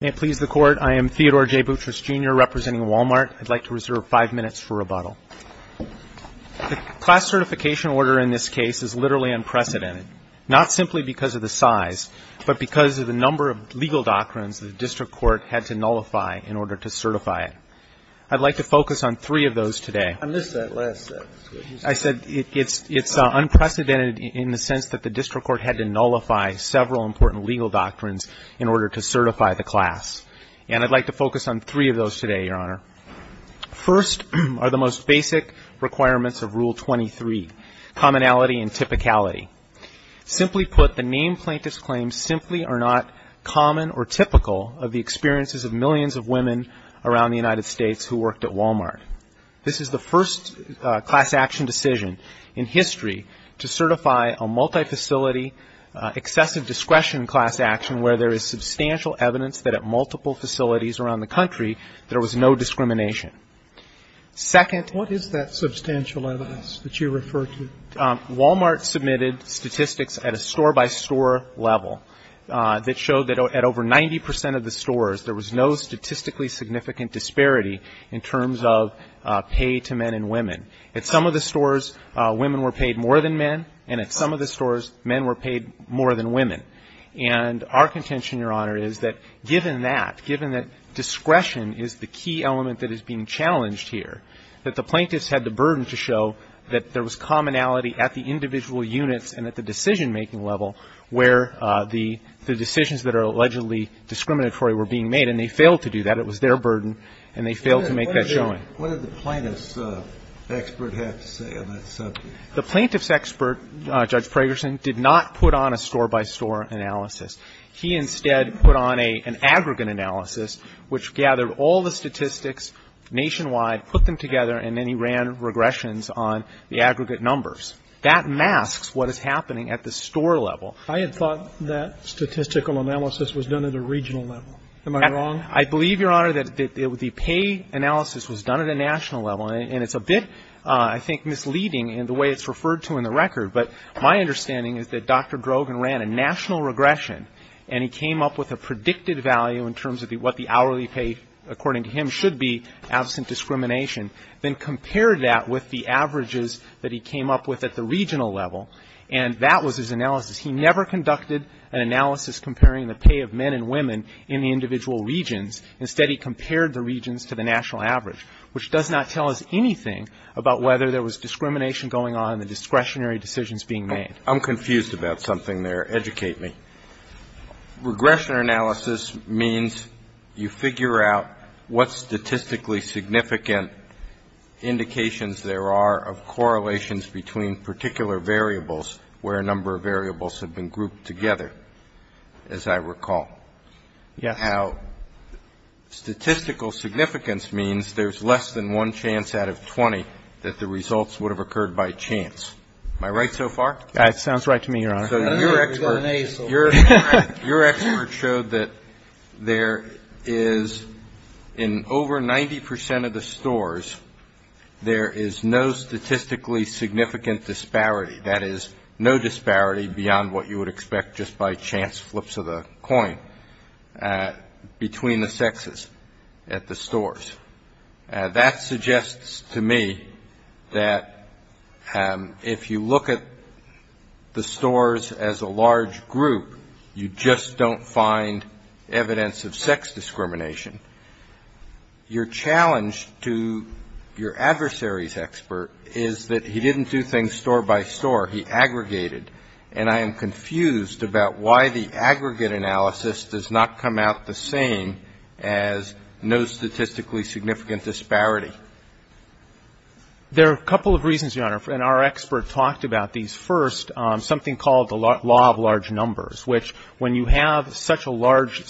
May it please the Court, I am Theodore J. Boutrous, Jr., representing Wal-Mart. I'd like to reserve five minutes for rebuttal. The class certification order in this case is literally unprecedented, not simply because of the size, but because of the number of legal doctrines the district court had to nullify in order to certify it. I'd like to focus on three of those today. I missed that last sentence. I said it's unprecedented in the sense that the district court had to nullify several important legal doctrines in order to certify the class. And I'd like to focus on three of those today, Your Honor. First are the most basic requirements of Rule 23, commonality and typicality. Simply put, the named plaintiffs' claims simply are not common or typical of the experiences of millions of women around the United States who worked at Wal-Mart. This is the first class action decision in history to certify a multi-facility, excessive discretion class action where there is substantial evidence that at multiple facilities around the country, there was no discrimination. Second. What is that substantial evidence that you refer to? Wal-Mart submitted statistics at a store-by-store level that showed that at over 90 percent of the stores, there was no statistically significant disparity in terms of pay to men and women. At some of the stores, women were paid more than men. And at some of the stores, men were paid more than women. And our contention, Your Honor, is that given that, given that discretion is the key element that is being challenged here, that the plaintiffs had the burden to show that there was commonality at the individual units and at the decision-making level where the decisions that are allegedly discriminatory were being made, and they failed to do that. It was their burden, and they failed to make that showing. What did the plaintiff's expert have to say on that subject? The plaintiff's expert, Judge Pragerson, did not put on a store-by-store analysis. He instead put on an aggregate analysis which gathered all the statistics nationwide, put them together, and then he ran regressions on the aggregate numbers. That masks what is happening at the store level. I had thought that statistical analysis was done at a regional level. Am I wrong? I believe, Your Honor, that the pay analysis was done at a national level, and it's a bit, I think, misleading in the way it's referred to in the record. But my understanding is that Dr. Drogen ran a national regression, and he came up with a predicted value in terms of what the hourly pay, according to him, should be absent discrimination, then compared that with the averages that he came up with at the regional level, and that was his analysis. He never conducted an analysis comparing the pay of men and women in the individual regions. Instead, he compared the regions to the national average, which does not tell us anything about whether there was discrimination going on and the discretionary decisions being made. I'm confused about something there. Educate me. Regression analysis means you figure out what statistically significant indications there are of correlations between particular variables where a number of variables have been grouped together, as I recall. Yes. Now, statistical significance means there's less than one chance out of 20 that the results would have occurred by chance. Am I right so far? That sounds right to me, Your Honor. Your expert showed that there is, in over 90 percent of the stores, there is no statistically significant disparity. That is, no disparity beyond what you would expect just by chance flips of the coin between the sexes at the stores. That suggests to me that if you look at the stores as a large group, you just don't find evidence of sex discrimination. Your challenge to your adversary's expert is that he didn't do things store by store. He aggregated. And I am confused about why the aggregate analysis does not come out the same as no statistically significant disparity. There are a couple of reasons, Your Honor, and our expert talked about these first. Something called the law of large numbers, which when you have such a large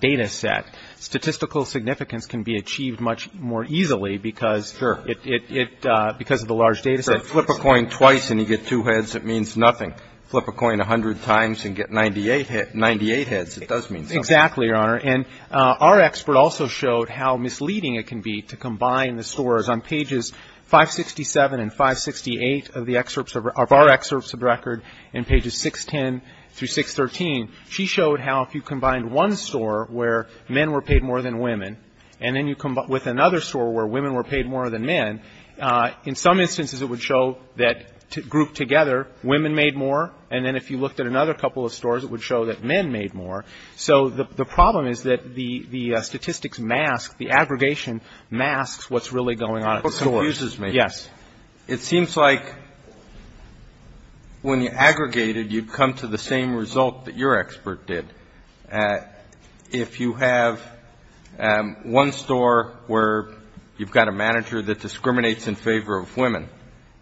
data set, statistical significance can be achieved much more easily because of the large data set. Sure. Flip a coin twice and you get two heads, it means nothing. Flip a coin 100 times and get 98 heads, it does mean something. Exactly, Your Honor. And our expert also showed how misleading it can be to combine the stores. On pages 567 and 568 of the excerpts of our excerpts of record, in pages 610 through 613, she showed how if you combined one store where men were paid more than women, and then you combine with another store where women were paid more than men, in some instances it would show that grouped together, women made more. And then if you looked at another couple of stores, it would show that men made more. So the problem is that the statistics mask, the aggregation masks what's really going on at the store. That's what confuses me. Yes. It seems like when you aggregated, you'd come to the same result that your expert did. If you have one store where you've got a manager that discriminates in favor of women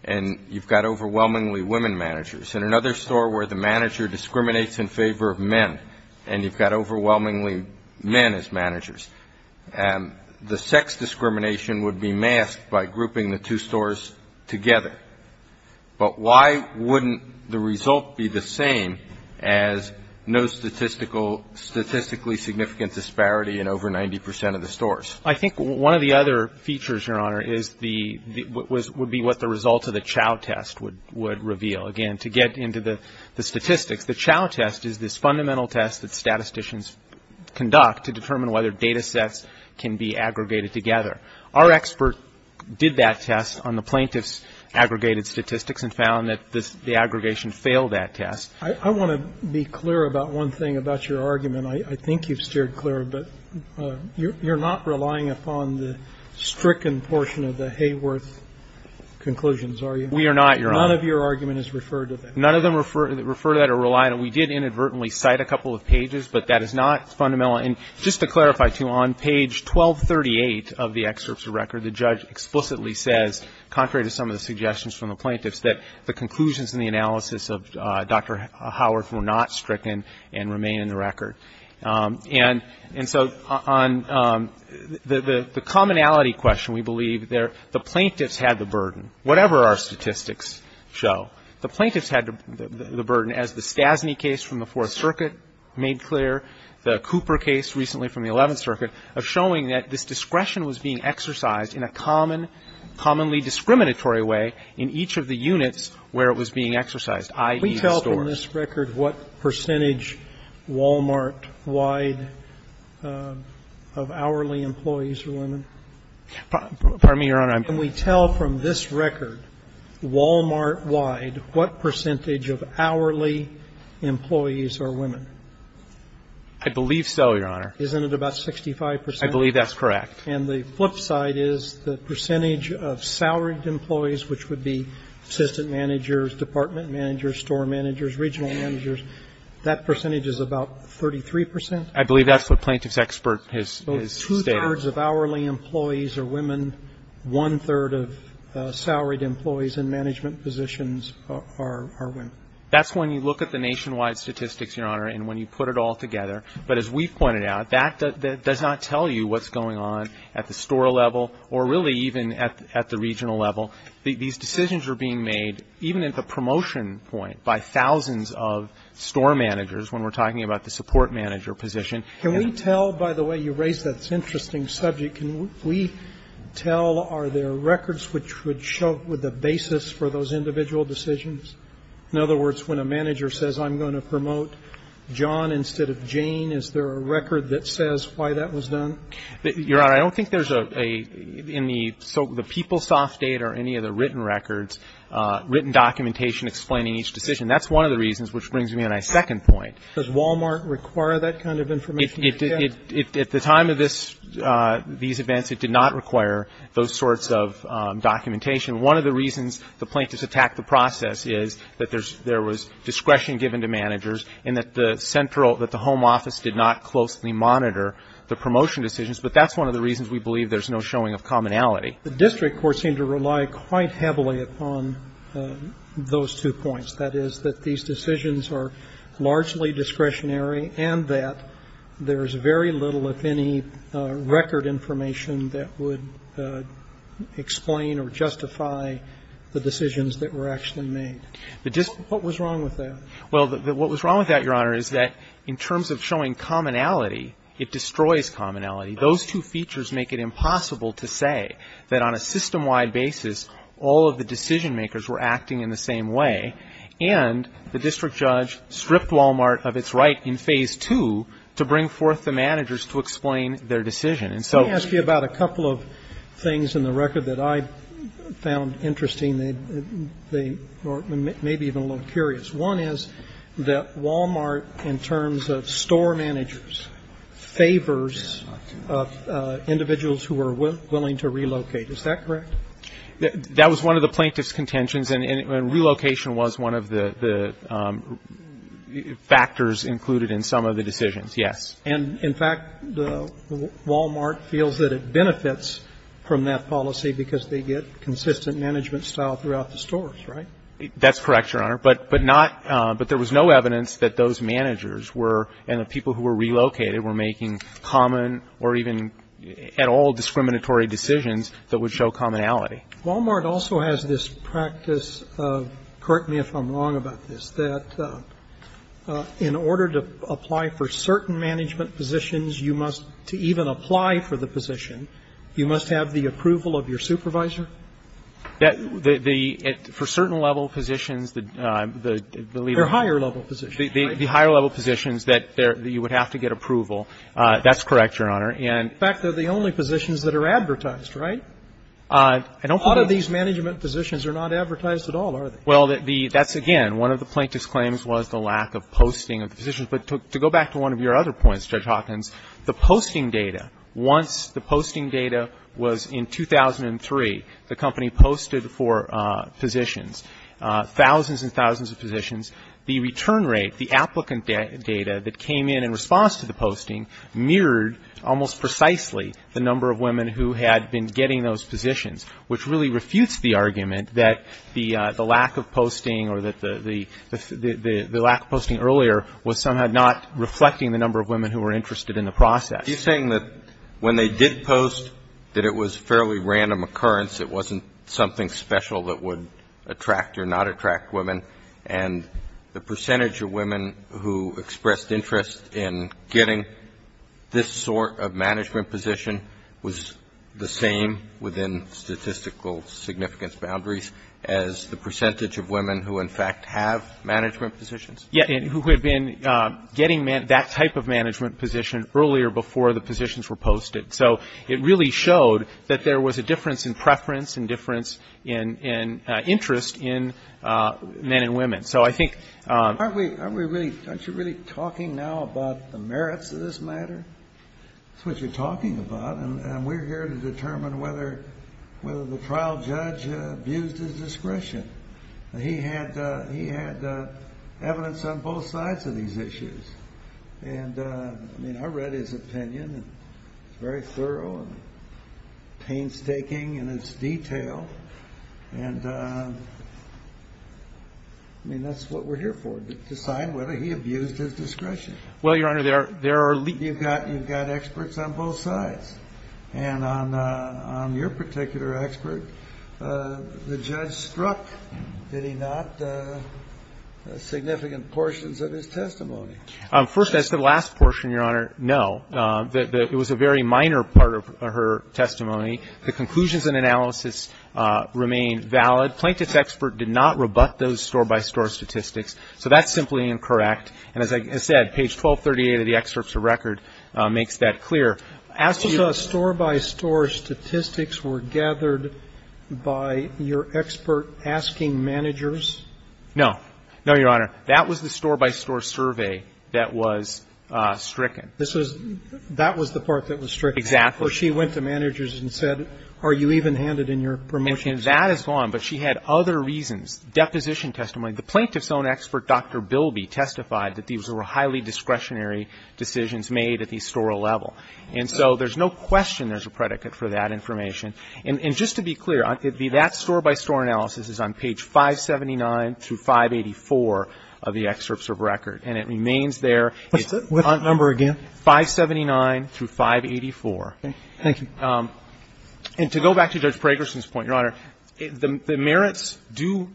and you've got overwhelmingly men as managers, the sex discrimination would be masked by grouping the two stores together. But why wouldn't the result be the same as no statistically significant disparity in over 90 percent of the stores? I think one of the other features, Your Honor, would be what the results of the Chow test would reveal. Again, to get into the statistics, the Chow test is this fundamental test that statisticians conduct to determine whether data sets can be aggregated together. Our expert did that test on the plaintiff's aggregated statistics and found that the aggregation failed that test. I want to be clear about one thing about your argument. I think you've steered clear, but you're not relying upon the stricken portion of the Hayworth conclusions, are you? We are not, Your Honor. None of your argument is referred to that. None of them refer to that or rely on it. We did inadvertently cite a couple of pages, but that is not fundamental. And just to clarify, too, on page 1238 of the excerpts of record, the judge explicitly says, contrary to some of the suggestions from the plaintiffs, that the conclusions in the analysis of Dr. Howarth were not stricken and remain in the record. And so on the commonality question, we believe the plaintiffs had the burden. Whatever our statistics show, the plaintiffs had the burden, as the Stasny case from the Fourth Circuit made clear, the Cooper case recently from the Eleventh Circuit, of showing that this discretion was being exercised in a common, commonly discriminatory way in each of the units where it was being exercised, i.e., the stores. Can we tell from this record what percentage Walmart-wide of hourly employees are women? Pardon me, Your Honor. Can we tell from this record Walmart-wide what percentage of hourly employees are women? I believe so, Your Honor. Isn't it about 65 percent? I believe that's correct. And the flip side is the percentage of salaried employees, which would be assistant managers, department managers, store managers, regional managers, that percentage is about 33 percent? I believe that's what plaintiff's expert has stated. One-third of hourly employees are women. One-third of salaried employees in management positions are women. That's when you look at the nationwide statistics, Your Honor, and when you put it all together. But as we pointed out, that does not tell you what's going on at the store level or really even at the regional level. These decisions are being made even at the promotion point by thousands of store managers when we're talking about the support manager position. Can we tell, by the way you raised that interesting subject, can we tell are there records which would show the basis for those individual decisions? In other words, when a manager says, I'm going to promote John instead of Jane, is there a record that says why that was done? Your Honor, I don't think there's a – in the PeopleSoft data or any of the written records, written documentation explaining each decision. That's one of the reasons, which brings me to my second point. Does Wal-Mart require that kind of information? It did. At the time of this – these events, it did not require those sorts of documentation. One of the reasons the plaintiffs attacked the process is that there was discretion given to managers and that the central – that the home office did not closely monitor the promotion decisions. But that's one of the reasons we believe there's no showing of commonality. The district courts seem to rely quite heavily upon those two points. That is, that these decisions are largely discretionary and that there's very little if any record information that would explain or justify the decisions that were actually made. What was wrong with that? Well, what was wrong with that, Your Honor, is that in terms of showing commonality, it destroys commonality. Those two features make it impossible to say that on a system-wide basis all of the And the district judge stripped Wal-Mart of its right in Phase 2 to bring forth the managers to explain their decision. And so – Let me ask you about a couple of things in the record that I found interesting or maybe even a little curious. One is that Wal-Mart, in terms of store managers, favors individuals who are willing to relocate. Is that correct? That was one of the plaintiff's contentions, and relocation was one of the factors included in some of the decisions, yes. And, in fact, Wal-Mart feels that it benefits from that policy because they get consistent management style throughout the stores, right? That's correct, Your Honor. But not – but there was no evidence that those managers were – and the people who were relocated were making common or even at all discriminatory decisions that would show commonality. Wal-Mart also has this practice – correct me if I'm wrong about this – that in order to apply for certain management positions, you must – to even apply for the position, you must have the approval of your supervisor? The – for certain level positions, the – Or higher level positions. The higher level positions that you would have to get approval. That's correct, Your Honor. In fact, they're the only positions that are advertised, right? A lot of these management positions are not advertised at all, are they? Well, the – that's, again, one of the plaintiff's claims was the lack of posting of the positions. But to go back to one of your other points, Judge Hawkins, the posting data, once the posting data was in 2003, the company posted for positions, thousands and thousands of positions. The return rate, the applicant data that came in in response to the posting mirrored almost precisely the number of women who had been getting those positions, which really refutes the argument that the lack of posting or that the lack of posting earlier was somehow not reflecting the number of women who were interested in the process. Are you saying that when they did post that it was a fairly random occurrence, it wasn't something special that would attract or not attract women, and the percentage of women who expressed interest in getting this sort of management position was the same within statistical significance boundaries as the percentage of women who, in fact, have management positions? Yeah. And who had been getting that type of management position earlier before the positions were posted. So it really showed that there was a difference in preference and difference in interest in men and women. Aren't you really talking now about the merits of this matter? That's what you're talking about, and we're here to determine whether the trial judge abused his discretion. He had evidence on both sides of these issues. I read his opinion. It's very thorough and painstaking in its detail. And, I mean, that's what we're here for, to decide whether he abused his discretion. Well, Your Honor, there are leaks. You've got experts on both sides. And on your particular expert, the judge struck, did he not, significant portions of his testimony? First, that's the last portion, Your Honor. No. It was a very minor part of her testimony. The conclusions and analysis remain valid. Plaintiff's expert did not rebut those store-by-store statistics. So that's simply incorrect. And as I said, page 1238 of the excerpts of record makes that clear. As to store-by-store statistics were gathered by your expert asking managers? No. No, Your Honor. That was the store-by-store survey that was stricken. That was the part that was stricken? Exactly. So she went to managers and said, are you even handed in your promotion? And that is gone. But she had other reasons. Deposition testimony. The plaintiff's own expert, Dr. Bilby, testified that these were highly discretionary decisions made at the store level. And so there's no question there's a predicate for that information. And just to be clear, that store-by-store analysis is on page 579 through 584 of the excerpts of record. And it remains there. What's the number again? 579 through 584. Thank you. And to go back to Judge Pragerson's point, Your Honor, the merits do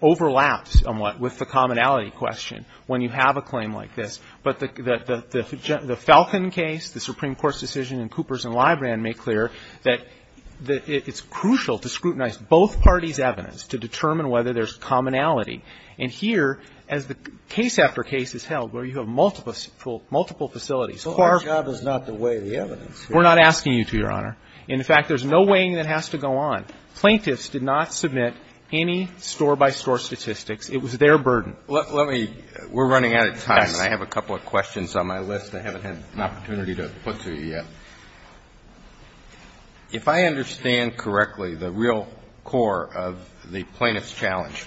overlap somewhat with the commonality question when you have a claim like this. But the Falcon case, the Supreme Court's decision in Coopers and Librand made clear that it's crucial to scrutinize both parties' evidence to determine whether there's commonality. And here, as the case after case is held where you have multiple facilities, court of law. Well, our job is not to weigh the evidence. We're not asking you to, Your Honor. In fact, there's no weighing that has to go on. Plaintiffs did not submit any store-by-store statistics. It was their burden. Let me – we're running out of time. Yes. And I have a couple of questions on my list I haven't had an opportunity to put to you yet. If I understand correctly, the real core of the plaintiff's challenge,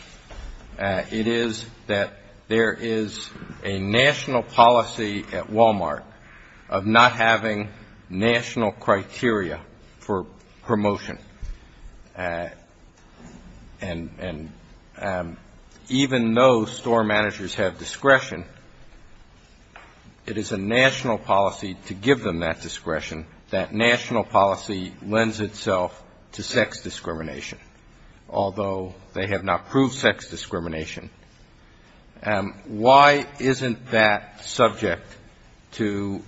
it is that there is a national policy at Walmart of not having national criteria for promotion. And even though store managers have discretion, it is a national policy to give them that discretion. That national policy lends itself to sex discrimination, although they have not proved sex discrimination. Why isn't that subject to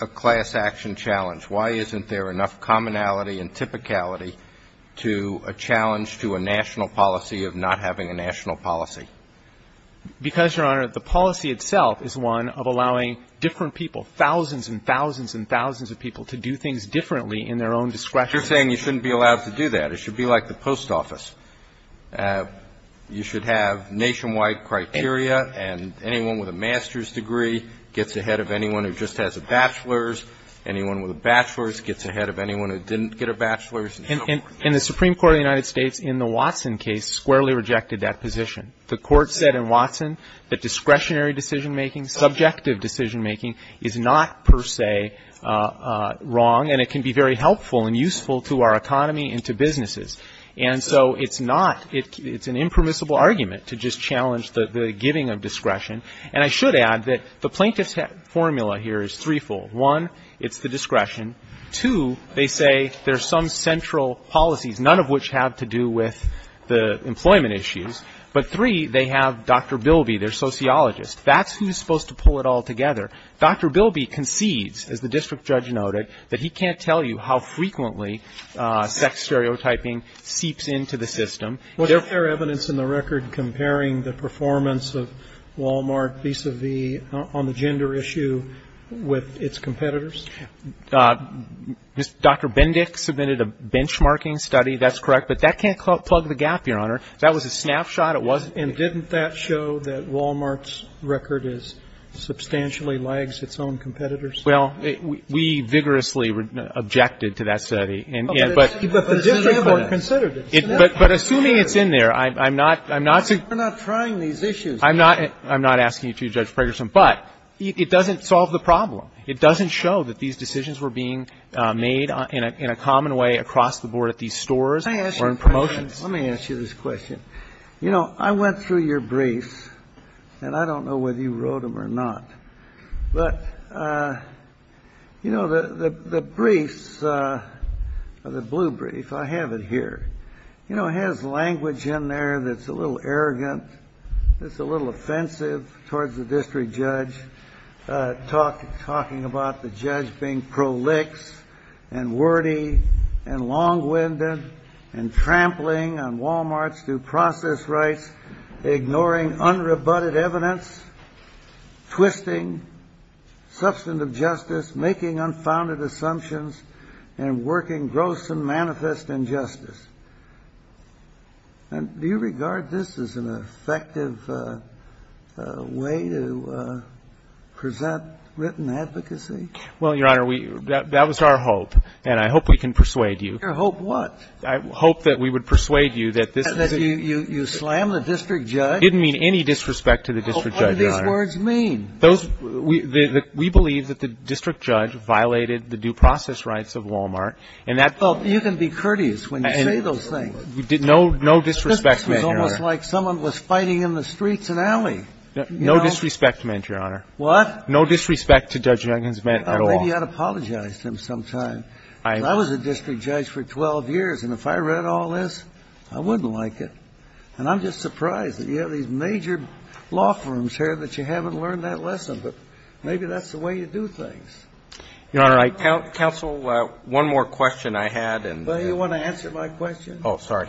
a class action challenge? Why isn't there enough commonality and typicality to a challenge to a national policy of not having a national policy? Because, Your Honor, the policy itself is one of allowing different people, thousands and thousands and thousands of people, to do things differently in their own discretion. You're saying you shouldn't be allowed to do that. It should be like the post office. You should have nationwide criteria. And anyone with a master's degree gets ahead of anyone who just has a bachelor's. Anyone with a bachelor's gets ahead of anyone who didn't get a bachelor's. And so forth. And the Supreme Court of the United States, in the Watson case, squarely rejected that position. The Court said in Watson that discretionary decision-making, subjective decision- making, is not per se wrong, and it can be very helpful and useful to our economy and to businesses. And so it's not, it's an impermissible argument to just challenge the giving of discretion. And I should add that the plaintiff's formula here is threefold. One, it's the discretion. Two, they say there's some central policies, none of which have to do with the employment issues. But three, they have Dr. Bilby, their sociologist. That's who's supposed to pull it all together. Dr. Bilby concedes, as the district judge noted, that he can't tell you how frequently sex stereotyping seeps into the system. What's their evidence in the record comparing the performance of Walmart vis-à-vis on the gender issue with its competitors? Dr. Bendick submitted a benchmarking study. That's correct. But that can't plug the gap, Your Honor. That was a snapshot. It wasn't. And didn't that show that Walmart's record substantially lags its own competitors? Well, we vigorously objected to that study. But the district court considered it. But assuming it's in there, I'm not saying you're not trying these issues. I'm not asking you to, Judge Ferguson. But it doesn't solve the problem. It doesn't show that these decisions were being made in a common way across the board at these stores or in promotions. Let me ask you this question. You know, I went through your briefs, and I don't know whether you wrote them or not, but, you know, the briefs, the blue brief, I have it here. You know, it has language in there that's a little arrogant, that's a little offensive towards the district judge, talking about the judge being prolix and wordy and long-winded and trampling on Walmart's due process rights, ignoring unrebutted evidence, twisting substantive justice, making unfounded assumptions, and working gross and manifest injustice. And do you regard this as an effective way to present written advocacy? Well, Your Honor, that was our hope. And I hope we can persuade you. Your hope what? I hope that we would persuade you that this is a ---- You slam the district judge? I didn't mean any disrespect to the district judge, Your Honor. Well, what do these words mean? We believe that the district judge violated the due process rights of Walmart, and that ---- Well, you can be courteous when you say those things. No disrespect meant, Your Honor. This was almost like someone was fighting in the streets in Alley. No disrespect meant, Your Honor. What? No disrespect to Judge Jenkins meant at all. Maybe you ought to apologize to him sometime. I was a district judge for 12 years, and if I read all this, I wouldn't like it. And I'm just surprised that you have these major law firms here that you haven't learned that lesson. But maybe that's the way you do things. Your Honor, I ---- Counsel, one more question I had and ---- Well, you want to answer my question? Oh, sorry.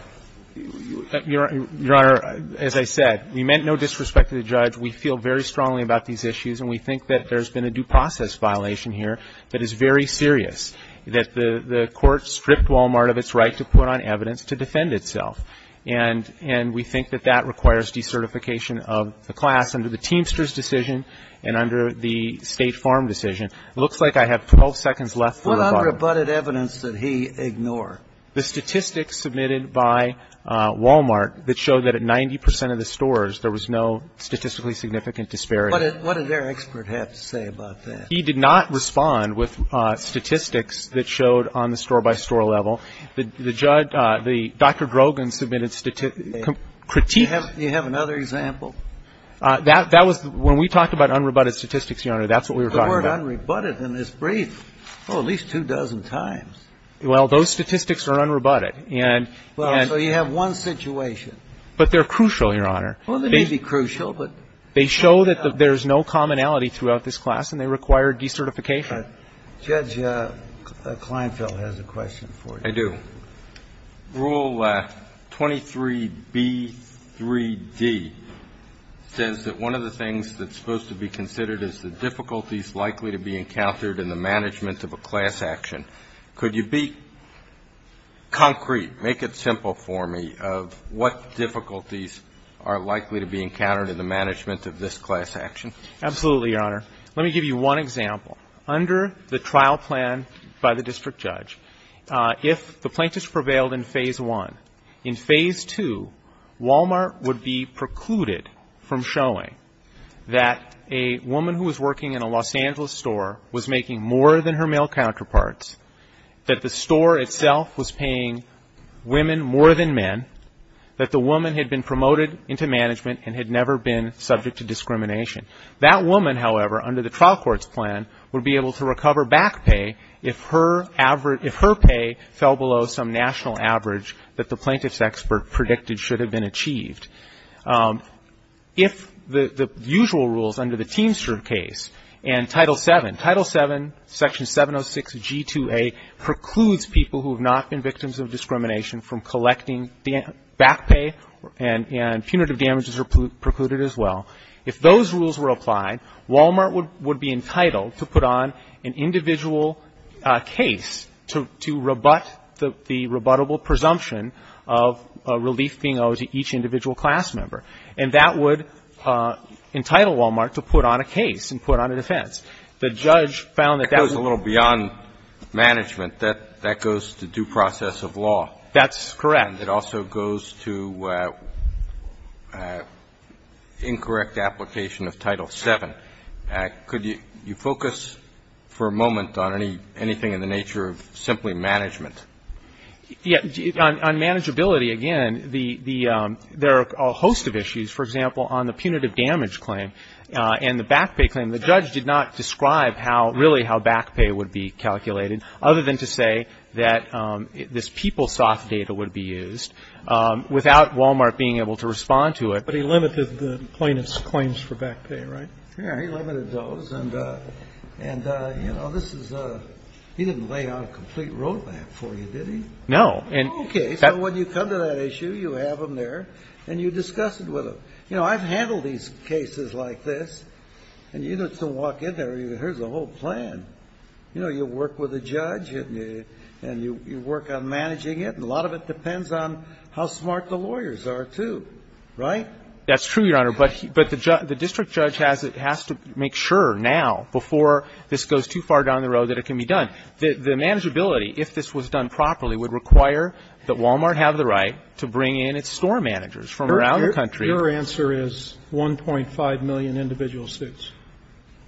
Your Honor, as I said, we meant no disrespect to the judge. We feel very strongly about these issues, and we think that there's been a due process violation here that is very serious. That the court stripped Walmart of its right to put on evidence to defend itself. And we think that that requires decertification of the class under the Teamsters decision and under the State Farm decision. It looks like I have 12 seconds left for rebuttal. What unrebutted evidence did he ignore? The statistics submitted by Walmart that showed that at 90 percent of the stores, there was no statistically significant disparity. What did their expert have to say about that? He did not respond with statistics that showed on the store-by-store level. The judge, the Dr. Drogon submitted critiques. Do you have another example? That was when we talked about unrebutted statistics, Your Honor. That's what we were talking about. The word unrebutted in this brief, oh, at least two dozen times. Well, those statistics are unrebutted, and ---- Well, so you have one situation. But they're crucial, Your Honor. Well, they may be crucial, but ---- Judge Kleinfeld has a question for you. I do. Rule 23B3D says that one of the things that's supposed to be considered is the difficulties likely to be encountered in the management of a class action. Could you be concrete, make it simple for me, of what difficulties are likely to be encountered in the management of this class action? Absolutely, Your Honor. Let me give you one example. Under the trial plan by the district judge, if the plaintiffs prevailed in Phase 1, in Phase 2, Walmart would be precluded from showing that a woman who was working in a Los Angeles store was making more than her male counterparts, that the store itself was paying women more than men, that the woman had been promoted into management and had never been subject to discrimination. That woman, however, under the trial court's plan, would be able to recover back pay if her pay fell below some national average that the plaintiff's expert predicted should have been achieved. If the usual rules under the Teamster case and Title VII, Title VII, Section 706G2A, precludes people who have not been victims of discrimination from collecting back pay and punitive damages are precluded as well. If those rules were applied, Walmart would be entitled to put on an individual case to rebut the rebuttable presumption of a relief being owed to each individual class member. And that would entitle Walmart to put on a case and put on a defense. The judge found that that was a little beyond management. That goes to due process of law. That's correct. And it also goes to incorrect application of Title VII. Could you focus for a moment on anything in the nature of simply management? Yes. On manageability, again, there are a host of issues. For example, on the punitive damage claim and the back pay claim, the judge did not describe how really how back pay would be calculated, other than to say that this PeopleSoft data would be used, without Walmart being able to respond to it. But he limited the plaintiff's claims for back pay, right? Yes. He limited those. And, you know, this is a he didn't lay out a complete roadmap for you, did he? No. Okay. So when you come to that issue, you have them there and you discuss it with them. You know, I've handled these cases like this. And you get to walk in there and here's the whole plan. You know, you work with a judge and you work on managing it, and a lot of it depends on how smart the lawyers are, too, right? That's true, Your Honor. But the district judge has to make sure now, before this goes too far down the road, that it can be done. The manageability, if this was done properly, would require that Walmart have the right to bring in its store managers from around the country. Your answer is 1.5 million individual suits.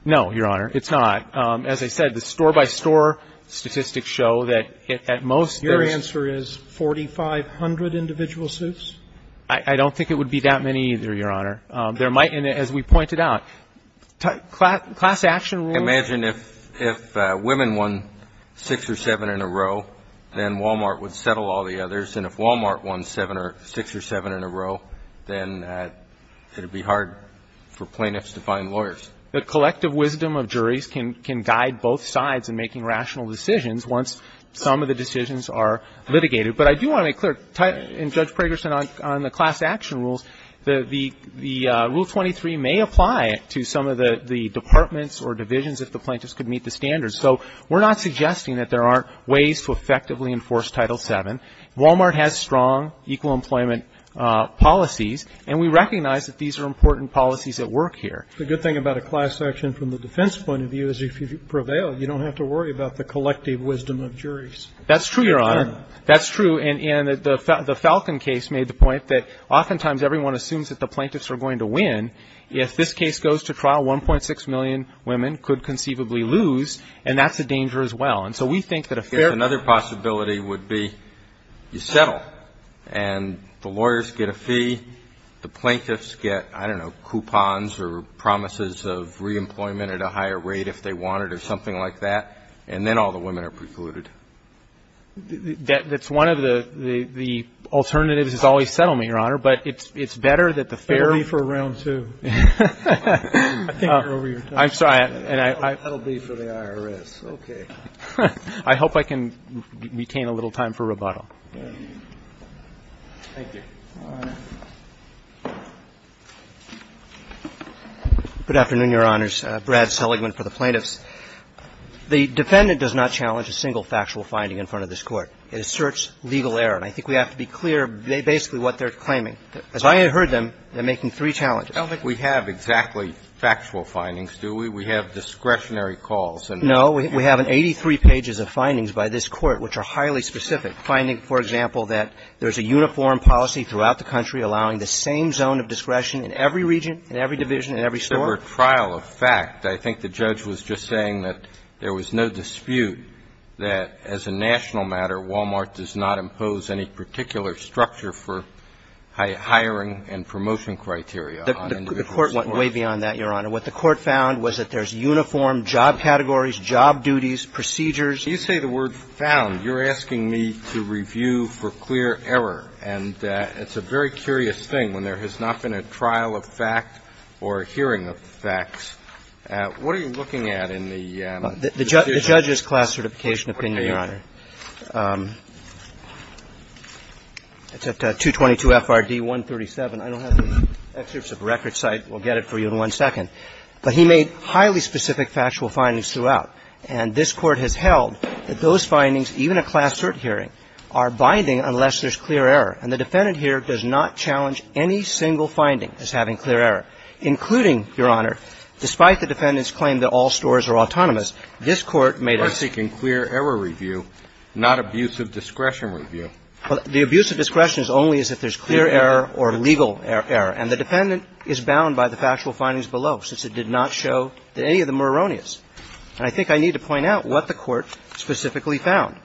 No, Your Honor. It's not. As I said, the store-by-store statistics show that at most there is. Your answer is 4,500 individual suits? I don't think it would be that many either, Your Honor. There might be, as we pointed out, class action rules. Imagine if women won six or seven in a row, then Walmart would settle all the others. And if Walmart won six or seven in a row, then it would be hard for plaintiffs to find lawyers. The collective wisdom of juries can guide both sides in making rational decisions once some of the decisions are litigated. But I do want to make clear, in Judge Pragerson, on the class action rules, the Rule 23 may apply to some of the departments or divisions if the plaintiffs could meet the standards. So we're not suggesting that there aren't ways to effectively enforce Title VII. Walmart has strong equal employment policies, and we recognize that these are important policies at work here. The good thing about a class action from the defense point of view is if you prevail, you don't have to worry about the collective wisdom of juries. That's true, Your Honor. That's true. And the Falcon case made the point that oftentimes everyone assumes that the plaintiffs are going to win. If this case goes to trial, 1.6 million women could conceivably lose, and that's a danger as well. And so we think that a fair ---- Another possibility would be you settle, and the lawyers get a fee, the plaintiffs get, I don't know, coupons or promises of reemployment at a higher rate if they wanted or something like that, and then all the women are precluded. That's one of the alternatives is always settlement, Your Honor. But it's better that the fair ---- That will be for Round 2. I think you're over your time. I'm sorry. That will be for the IRS. Okay. I hope I can retain a little time for rebuttal. Thank you. Your Honor. Good afternoon, Your Honors. Brad Seligman for the plaintiffs. The defendant does not challenge a single factual finding in front of this Court. It asserts legal error. And I think we have to be clear basically what they're claiming. As I heard them, they're making three challenges. I don't think we have exactly factual findings, do we? We have discretionary calls. No. We have 83 pages of findings by this Court which are highly specific, finding, for example, that there's a uniform policy throughout the country allowing the same zone of discretion in every region, in every division, in every store. There were trial of fact. I think the judge was just saying that there was no dispute that as a national matter, Walmart does not impose any particular structure for hiring and promotion criteria on individuals. The Court went way beyond that, Your Honor. What the Court found was that there's uniform job categories, job duties, procedures. You say the word found. You're asking me to review for clear error. And it's a very curious thing when there has not been a trial of fact or a hearing of the facts. What are you looking at in the decision? The judge's class certification opinion, Your Honor. It's at 222 F.R.D. 137. I don't have the excerpts of the record site. We'll get it for you in one second. But he made highly specific factual findings throughout. And this Court has held that those findings, even a class cert hearing, are binding unless there's clear error. And the defendant here does not challenge any single finding as having clear error, including, Your Honor, despite the defendant's claim that all stores are autonomous, this Court made a ---- We're seeking clear error review, not abuse of discretion review. Well, the abuse of discretion is only as if there's clear error or legal error. And the defendant is bound by the factual findings below, since it did not show that any of them were erroneous. And I think I need to point out what the Court specifically found.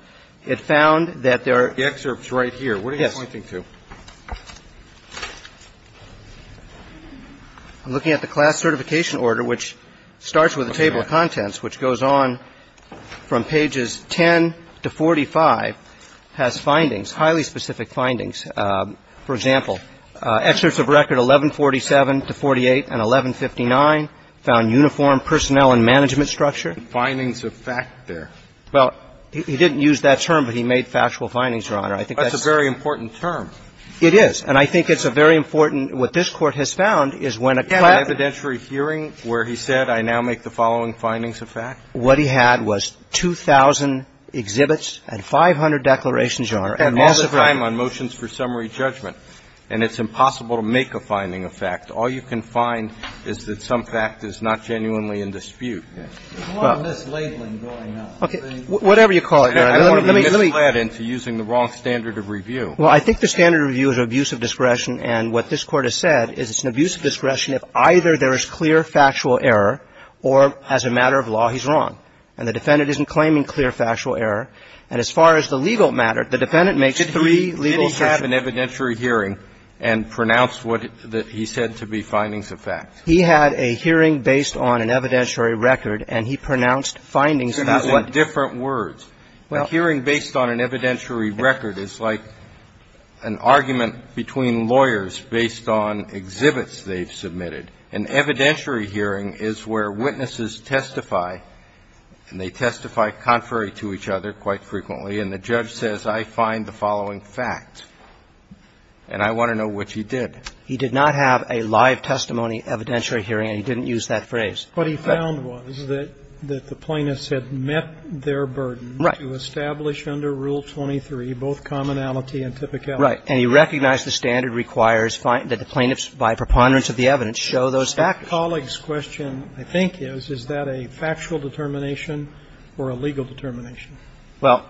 It found that there are ---- The excerpt's right here. What are you pointing to? Yes. I'm looking at the class certification order, which starts with a table of contents, which goes on from pages 10 to 45, has findings, highly specific findings. For example, excerpts of record 1147 to 48 and 1159 found uniform personnel and management structure. Findings of fact there. Well, he didn't use that term, but he made factual findings, Your Honor. I think that's ---- That's a very important term. It is. And I think it's a very important ---- what this Court has found is when a ---- An evidentiary hearing where he said, I now make the following findings of fact? What he had was 2,000 exhibits and 500 declarations, Your Honor. And all the time on motions for summary judgment. And it's impossible to make a finding of fact. All you can find is that some fact is not genuinely in dispute. There's a lot of mislabeling going on. Whatever you call it, Your Honor. Let me ---- I don't want to be misled into using the wrong standard of review. Well, I think the standard of review is an abuse of discretion. And what this Court has said is it's an abuse of discretion if either there is clear factual error or as a matter of law he's wrong. And the defendant isn't claiming clear factual error. And as far as the legal matter, the defendant makes three legal assertions. He had an evidentiary hearing and pronounced what he said to be findings of fact. He had a hearing based on an evidentiary record, and he pronounced findings about what ---- So these are different words. A hearing based on an evidentiary record is like an argument between lawyers based on exhibits they've submitted. An evidentiary hearing is where witnesses testify, and they testify contrary to each other quite frequently. And the judge says, I find the following fact, and I want to know what you did. He did not have a live testimony evidentiary hearing, and he didn't use that phrase. What he found was that the plaintiffs had met their burden to establish under Rule 23 both commonality and typicality. Right. And he recognized the standard requires that the plaintiffs, by preponderance of the evidence, show those factors. My colleague's question, I think, is, is that a factual determination or a legal determination? Well,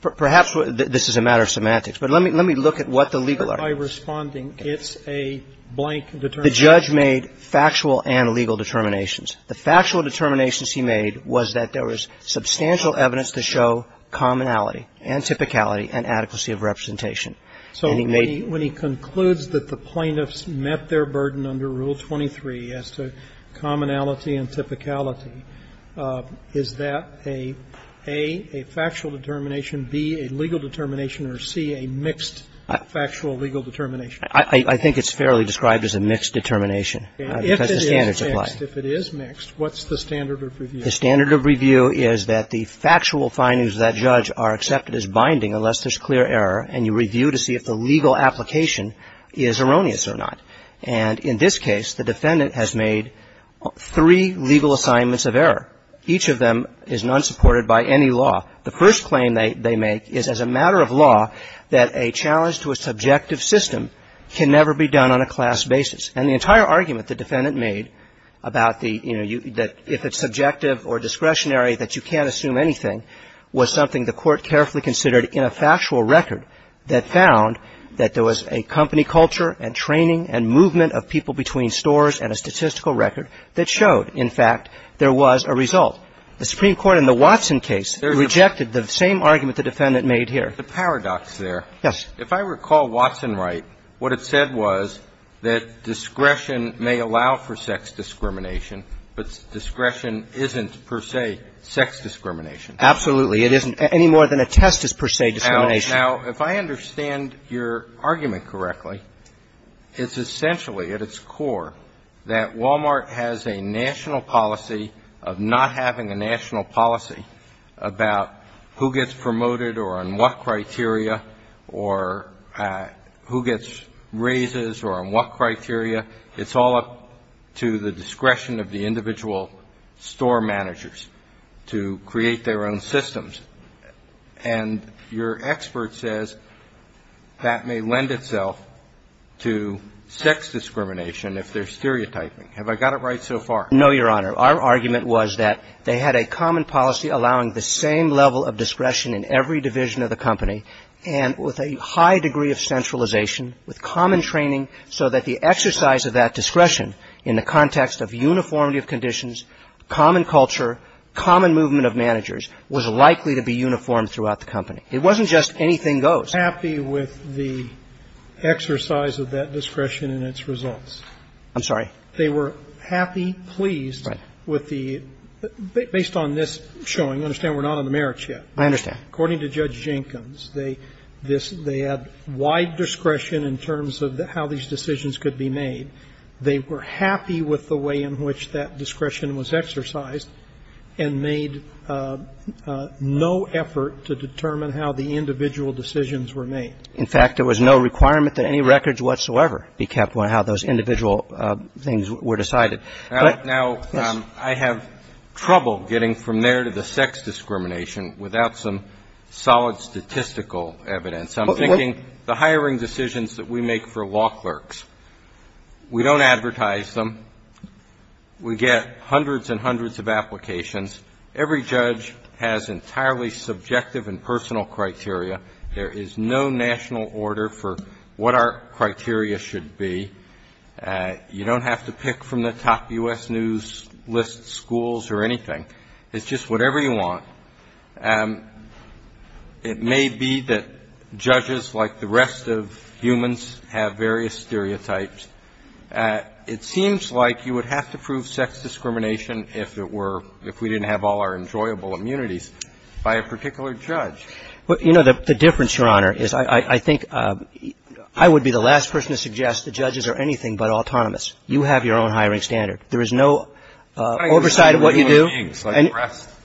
perhaps this is a matter of semantics, but let me look at what the legal argument is. By responding, it's a blank determination. The judge made factual and legal determinations. The factual determinations he made was that there was substantial evidence to show commonality and typicality and adequacy of representation. And he made ---- So when he concludes that the plaintiffs met their burden under Rule 23 as to commonality and typicality, is that, A, a factual determination, B, a legal determination, or C, a mixed factual legal determination? I think it's fairly described as a mixed determination because the standards apply. If it is mixed, what's the standard of review? The standard of review is that the factual findings of that judge are accepted as binding unless there's clear error, and you review to see if the legal application is erroneous or not. And in this case, the defendant has made three legal assignments of error. Each of them is not supported by any law. The first claim they make is as a matter of law that a challenge to a subjective system can never be done on a class basis. And the entire argument the defendant made about the, you know, that if it's subjective or discretionary that you can't assume anything was something the Court carefully considered in a factual record that found that there was a company culture and training and movement of people between stores and a statistical record that showed, in fact, there was a result. The Supreme Court in the Watson case rejected the same argument the defendant made here. The paradox there. Yes. If I recall Watson right, what it said was that discretion may allow for sex discrimination, but discretion isn't per se sex discrimination. Absolutely. It isn't any more than a test is per se discrimination. Now, if I understand your argument correctly, it's essentially, at its core, that Walmart has a national policy of not having a national policy about who gets promoted or on what criteria or who gets raises or on what criteria. It's all up to the discretion of the individual store managers to create their own systems. And your expert says that may lend itself to sex discrimination if they're stereotyping. Have I got it right so far? No, Your Honor. Our argument was that they had a common policy allowing the same level of discretion in every division of the company and with a high degree of centralization, with common training so that the exercise of that discretion in the context of uniformity conditions, common culture, common movement of managers was likely to be uniform throughout the company. It wasn't just anything goes. They were happy with the exercise of that discretion and its results. I'm sorry? They were happy, pleased with the – based on this showing, understand we're not on the merits yet. I understand. According to Judge Jenkins, they had wide discretion in terms of how these decisions could be made. They were happy with the way in which that discretion was exercised and made no effort to determine how the individual decisions were made. In fact, there was no requirement that any records whatsoever be kept on how those individual things were decided. Now, I have trouble getting from there to the sex discrimination without some solid statistical evidence. I'm thinking the hiring decisions that we make for law clerks. We don't advertise them. We get hundreds and hundreds of applications. Every judge has entirely subjective and personal criteria. There is no national order for what our criteria should be. You don't have to pick from the top U.S. news list schools or anything. It's just whatever you want. It may be that judges, like the rest of humans, have various stereotypes. It seems like you would have to prove sex discrimination if it were – if we didn't have all our enjoyable immunities by a particular judge. Well, you know, the difference, Your Honor, is I think I would be the last person to suggest the judges are anything but autonomous. You have your own hiring standard. There is no oversight of what you do.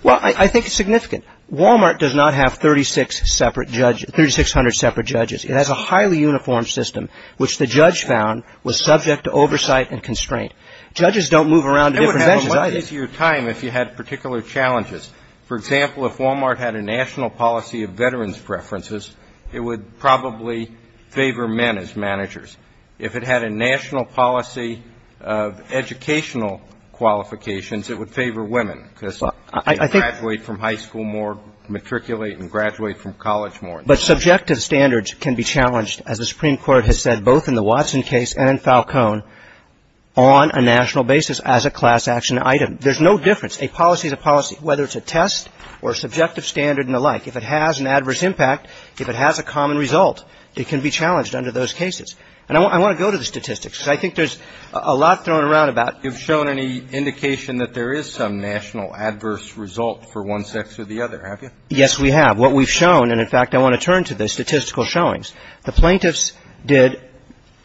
Well, I think it's significant. Walmart does not have 36 separate – 3,600 separate judges. It has a highly uniform system, which the judge found was subject to oversight and constraint. Judges don't move around to different benches either. It would have a lot easier time if you had particular challenges. For example, if Walmart had a national policy of veterans' preferences, it would probably favor men as managers. If it had a national policy of educational qualifications, it would favor women because you can graduate from high school more, matriculate and graduate from college more. But subjective standards can be challenged, as the Supreme Court has said, both in the Watson case and in Falcone, on a national basis as a class action item. There's no difference. A policy is a policy, whether it's a test or a subjective standard and the like. If it has an adverse impact, if it has a common result, it can be challenged under those cases. And I want to go to the statistics because I think there's a lot thrown around about – You've shown any indication that there is some national adverse result for one sex or the other, have you? Yes, we have. What we've shown – and, in fact, I want to turn to the statistical showings. The plaintiffs did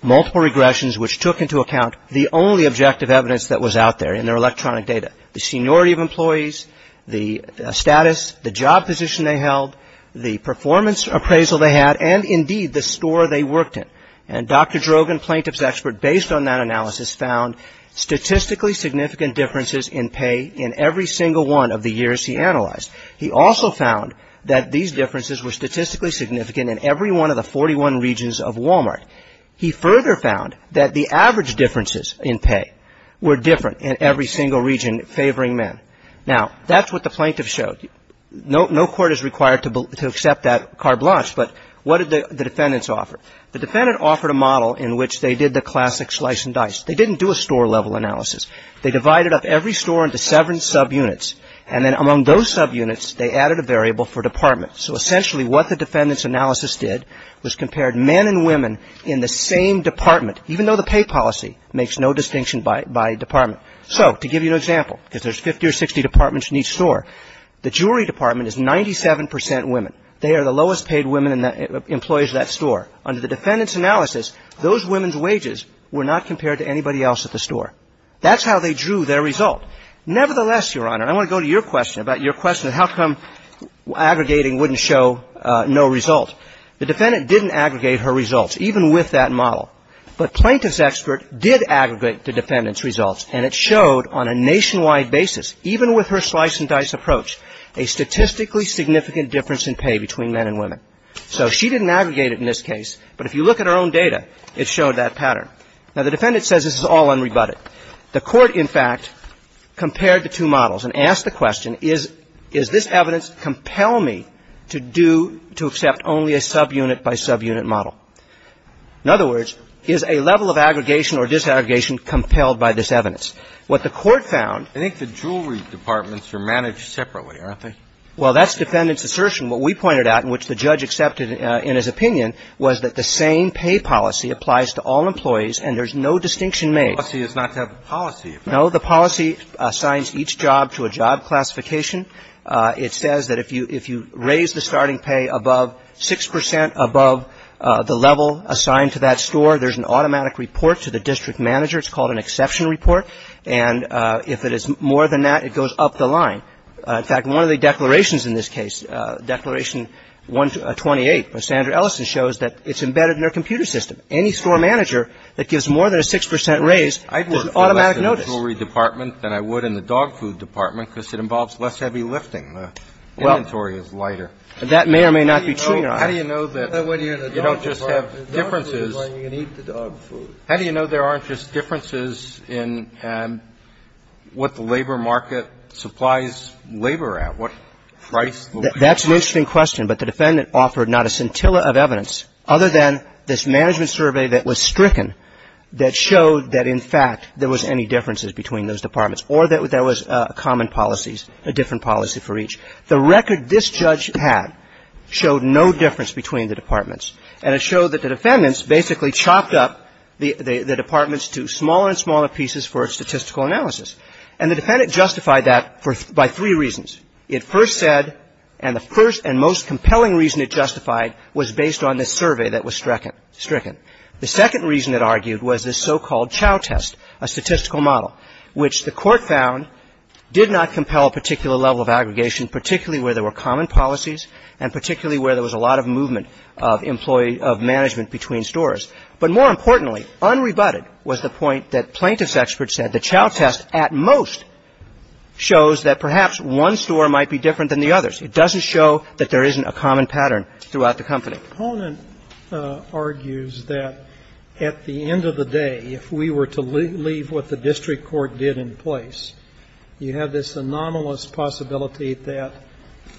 multiple regressions which took into account the only objective evidence that was out there in their electronic data, the seniority of employees, the status, the job position they held, the performance appraisal they had, and, indeed, the store they worked in. And Dr. Drogan, plaintiff's expert, based on that analysis, found statistically significant differences in pay in every single one of the years he analyzed. He also found that these differences were statistically significant in every one of the 41 regions of Walmart. He further found that the average differences in pay were different in every single region favoring men. Now, that's what the plaintiff showed. No court is required to accept that carte blanche, but what did the defendants offer? The defendant offered a model in which they did the classic slice and dice. They didn't do a store-level analysis. They divided up every store into seven subunits, and then among those subunits, they added a variable for department. So, essentially, what the defendant's analysis did was compared men and women in the same department, even though the pay policy makes no distinction by department. So, to give you an example, because there's 50 or 60 departments in each store, the jewelry department is 97 percent women. They are the lowest paid women employees at that store. Under the defendant's analysis, those women's wages were not compared to anybody else at the store. That's how they drew their result. Nevertheless, Your Honor, I want to go to your question about your question of how come aggregating wouldn't show no result. The defendant didn't aggregate her results, even with that model. But plaintiff's expert did aggregate the defendant's results, and it showed on a nationwide basis, even with her slice-and-dice approach, a statistically significant difference in pay between men and women. So she didn't aggregate it in this case, but if you look at her own data, it showed that pattern. Now, the defendant says this is all unrebutted. The Court, in fact, compared the two models and asked the question, is this evidence compel me to do to accept only a subunit-by-subunit model? In other words, is a level of aggregation or disaggregation compelled by this evidence? What the Court found — I think the jewelry departments are managed separately, aren't they? Well, that's defendant's assertion. What we pointed out, and which the judge accepted in his opinion, was that the same pay policy applies to all employees, and there's no distinction made. The policy is not to have a policy effect. No. The policy assigns each job to a job classification. It says that if you raise the starting pay above 6 percent above the level assigned to that store, there's an automatic report to the district manager. It's called an exception report. And if it is more than that, it goes up the line. In fact, one of the declarations in this case, Declaration 128 by Sandra Ellison shows that it's embedded in their computer system. Any store manager that gives more than a 6 percent raise gets an automatic notice. And I'd be more concerned in the jewelry department than I would in the dog food department because it involves less heavy lifting. The inventory is lighter. Well, that may or may not be true, Your Honor. How do you know that you don't just have differences? The dog food is where you eat the dog food. How do you know there aren't just differences in what the labor market supplies labor at? What price will pay for this? That's an interesting question. But the defendant offered not a scintilla of evidence other than this management survey that was stricken that showed that, in fact, there was any differences between those departments or that there was common policies, a different policy for each. The record this judge had showed no difference between the departments. And it showed that the defendants basically chopped up the departments to smaller and smaller pieces for statistical analysis. And the defendant justified that by three reasons. It first said, and the first and most compelling reason it justified was based on this survey that was stricken. The second reason it argued was this so-called chow test, a statistical model, which the Court found did not compel a particular level of aggregation, particularly where there were common policies and particularly where there was a lot of movement of management between stores. But more importantly, unrebutted was the point that plaintiff's experts said the chow test at most shows that perhaps one store might be different than the others. It doesn't show that there isn't a common pattern throughout the company. The opponent argues that at the end of the day, if we were to leave what the district court did in place, you have this anomalous possibility that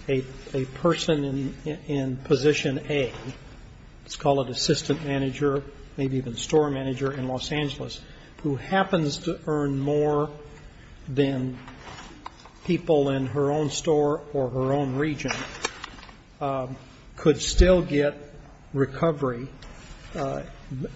a person in position A, let's call it assistant manager, maybe even store manager in Los Angeles, who happens to earn more than people in her own store or her own region could still get recovery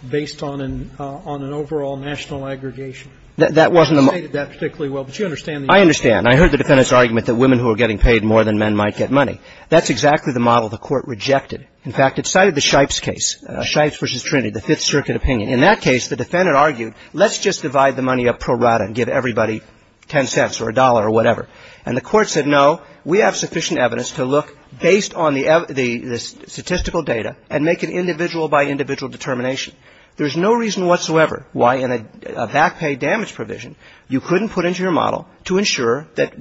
based on an overall national aggregation. That wasn't a model. I stated that particularly well, but you understand the argument. I understand. I heard the defendant's argument that women who were getting paid more than men might get money. That's exactly the model the Court rejected. In fact, it cited the Shipes case, Shipes v. Trinity, the Fifth Circuit opinion. In that case, the defendant argued let's just divide the money up pro rata and give everybody ten cents or a dollar or whatever, and the Court said no, we have sufficient evidence to look based on the statistical data and make an individual by individual determination. There's no reason whatsoever why in a back pay damage provision you couldn't put into your model to ensure that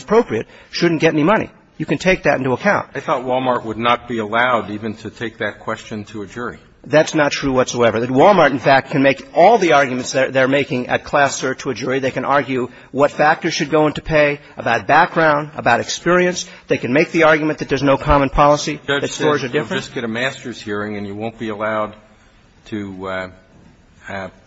appropriate shouldn't get any money. You can take that into account. I thought Wal-Mart would not be allowed even to take that question to a jury. That's not true whatsoever. Wal-Mart, in fact, can make all the arguments they're making at class search to a jury. They can argue what factors should go into pay, about background, about experience. They can make the argument that there's no common policy that stores a difference. The judge said you'll just get a master's hearing and you won't be allowed to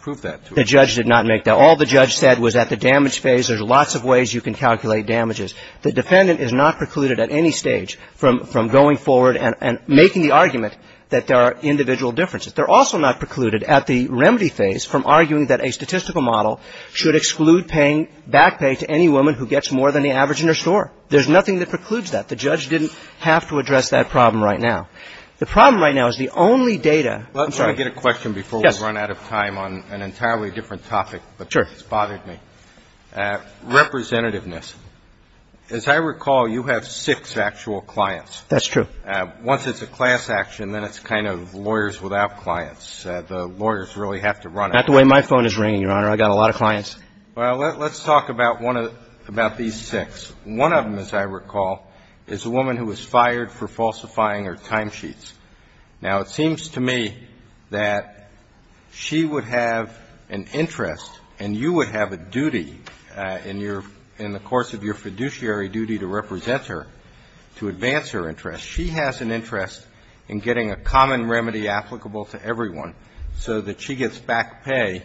prove that to a jury. The judge did not make that. All the judge said was at the damage phase, there's lots of ways you can calculate damages. The defendant is not precluded at any stage from going forward and making the argument that there are individual differences. They're also not precluded at the remedy phase from arguing that a statistical model should exclude paying back pay to any woman who gets more than the average in her store. There's nothing that precludes that. The judge didn't have to address that problem right now. The problem right now is the only data. I'm sorry. Let me get a question before we run out of time on an entirely different topic. Sure. Sorry, it's bothered me. Representativeness. As I recall, you have six actual clients. That's true. Once it's a class action, then it's kind of lawyers without clients. The lawyers really have to run it. Not the way my phone is ringing, Your Honor. I've got a lot of clients. Well, let's talk about one of these six. One of them, as I recall, is a woman who was fired for falsifying her timesheets. Now, it seems to me that she would have an interest and you would have a duty in the course of your fiduciary duty to represent her, to advance her interest. She has an interest in getting a common remedy applicable to everyone so that she gets back pay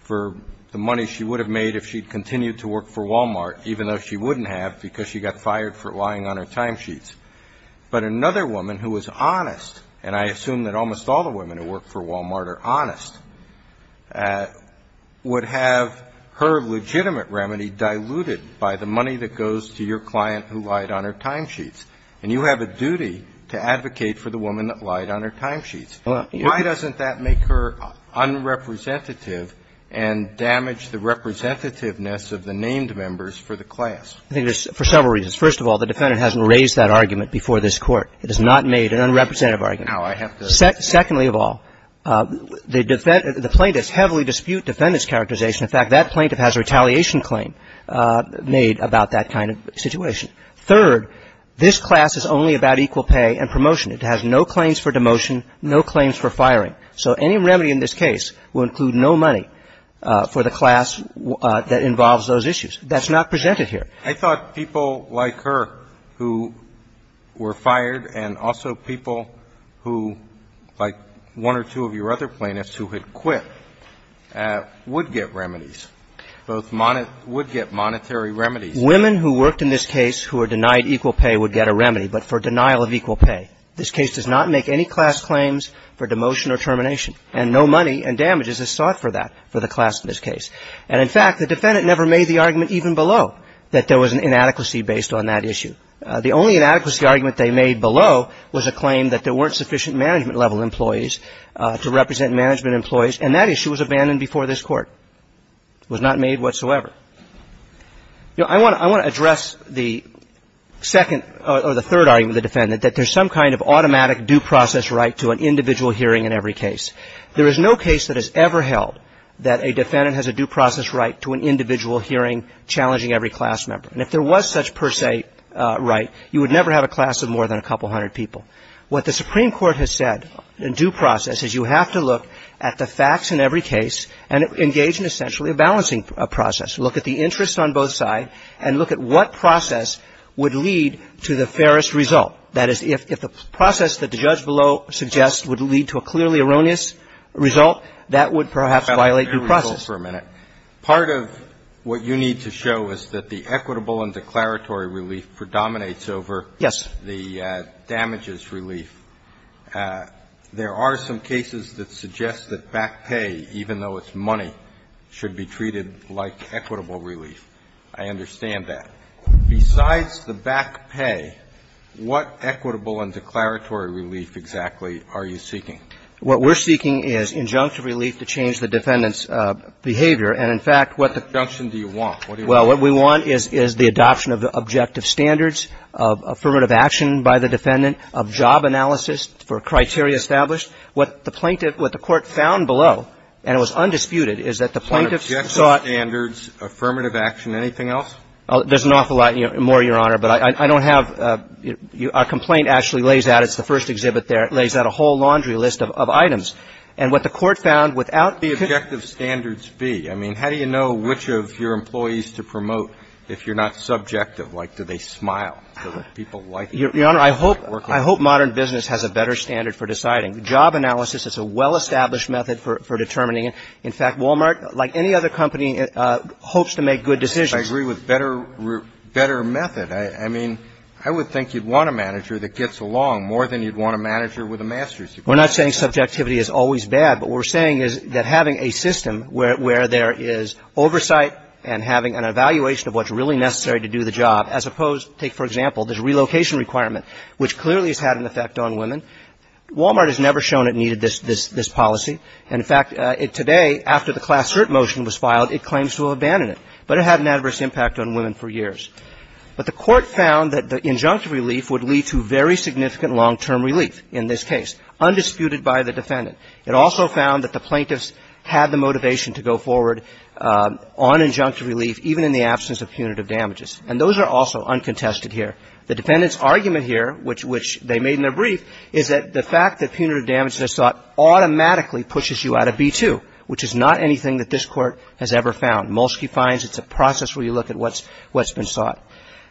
for the money she would have made if she'd continued to work for Walmart, even though she wouldn't have because she got fired for lying on her timesheets. But another woman who was honest, and I assume that almost all the women who work for Walmart are honest, would have her legitimate remedy diluted by the money that goes to your client who lied on her timesheets. And you have a duty to advocate for the woman that lied on her timesheets. Why doesn't that make her unrepresentative and damage the representativeness of the named members for the class? I think there's several reasons. First of all, the Defendant hasn't raised that argument before this Court. It has not made an unrepresentative argument. Now, I have to. Secondly of all, the plaintiffs heavily dispute Defendant's characterization. In fact, that plaintiff has a retaliation claim made about that kind of situation. Third, this class is only about equal pay and promotion. It has no claims for demotion, no claims for firing. So any remedy in this case will include no money for the class that involves those issues. That's not presented here. I thought people like her who were fired and also people who, like one or two of your other plaintiffs who had quit, would get remedies, both would get monetary remedies. Women who worked in this case who were denied equal pay would get a remedy, but for denial of equal pay. This case does not make any class claims for demotion or termination. And no money and damages is sought for that, for the class in this case. And in fact, the Defendant never made the argument even below that there was an inadequacy based on that issue. The only inadequacy argument they made below was a claim that there weren't sufficient management-level employees to represent management employees, and that issue was abandoned before this Court. It was not made whatsoever. I want to address the second or the third argument of the Defendant, that there's some kind of automatic due process right to an individual hearing in every case. There is no case that is ever held that a Defendant has a due process right to an individual hearing challenging every class member. And if there was such per se right, you would never have a class of more than a couple hundred people. What the Supreme Court has said in due process is you have to look at the facts in every case and engage in essentially a balancing process, look at the interest on both sides and look at what process would lead to the fairest result. That is, if the process that the judge below suggests would lead to a clearly erroneous result, that would perhaps violate due process. That's a fair result for a minute. Part of what you need to show is that the equitable and declaratory relief predominates over the damages relief. Yes. There are some cases that suggest that back pay, even though it's money, should be treated like equitable relief. I understand that. Besides the back pay, what equitable and declaratory relief exactly are you seeking? What we're seeking is injunctive relief to change the Defendant's behavior. And, in fact, what the ---- What injunction do you want? What do you want? Well, what we want is the adoption of the objective standards, of affirmative action by the Defendant, of job analysis for criteria established. What the plaintiff, what the Court found below, and it was undisputed, is that the plaintiffs sought ---- On objective standards, affirmative action, anything else? There's an awful lot more, Your Honor, but I don't have ---- Our complaint actually lays out, it's the first exhibit there, it lays out a whole laundry list of items. And what the Court found without ---- What would the objective standards be? I mean, how do you know which of your employees to promote if you're not subjective? Like, do they smile? Do people like it? Your Honor, I hope modern business has a better standard for deciding. Job analysis is a well-established method for determining. In fact, Walmart, like any other company, hopes to make good decisions. But I agree with better method. I mean, I would think you'd want a manager that gets along more than you'd want a manager with a master's degree. We're not saying subjectivity is always bad, but what we're saying is that having a system where there is oversight and having an evaluation of what's really necessary to do the job, as opposed to, take, for example, this relocation requirement, which clearly has had an effect on women. Walmart has never shown it needed this policy. In fact, today, after the Class Cert motion was filed, it claims to have abandoned it, but it had an adverse impact on women for years. But the Court found that the injunctive relief would lead to very significant long-term relief in this case, undisputed by the defendant. It also found that the plaintiffs had the motivation to go forward on injunctive relief, even in the absence of punitive damages. And those are also uncontested here. The defendant's argument here, which they made in their brief, is that the fact that punitive damages are sought automatically pushes you out of B-2, which is not anything that this Court has ever found. Molsky finds it's a process where you look at what's been sought.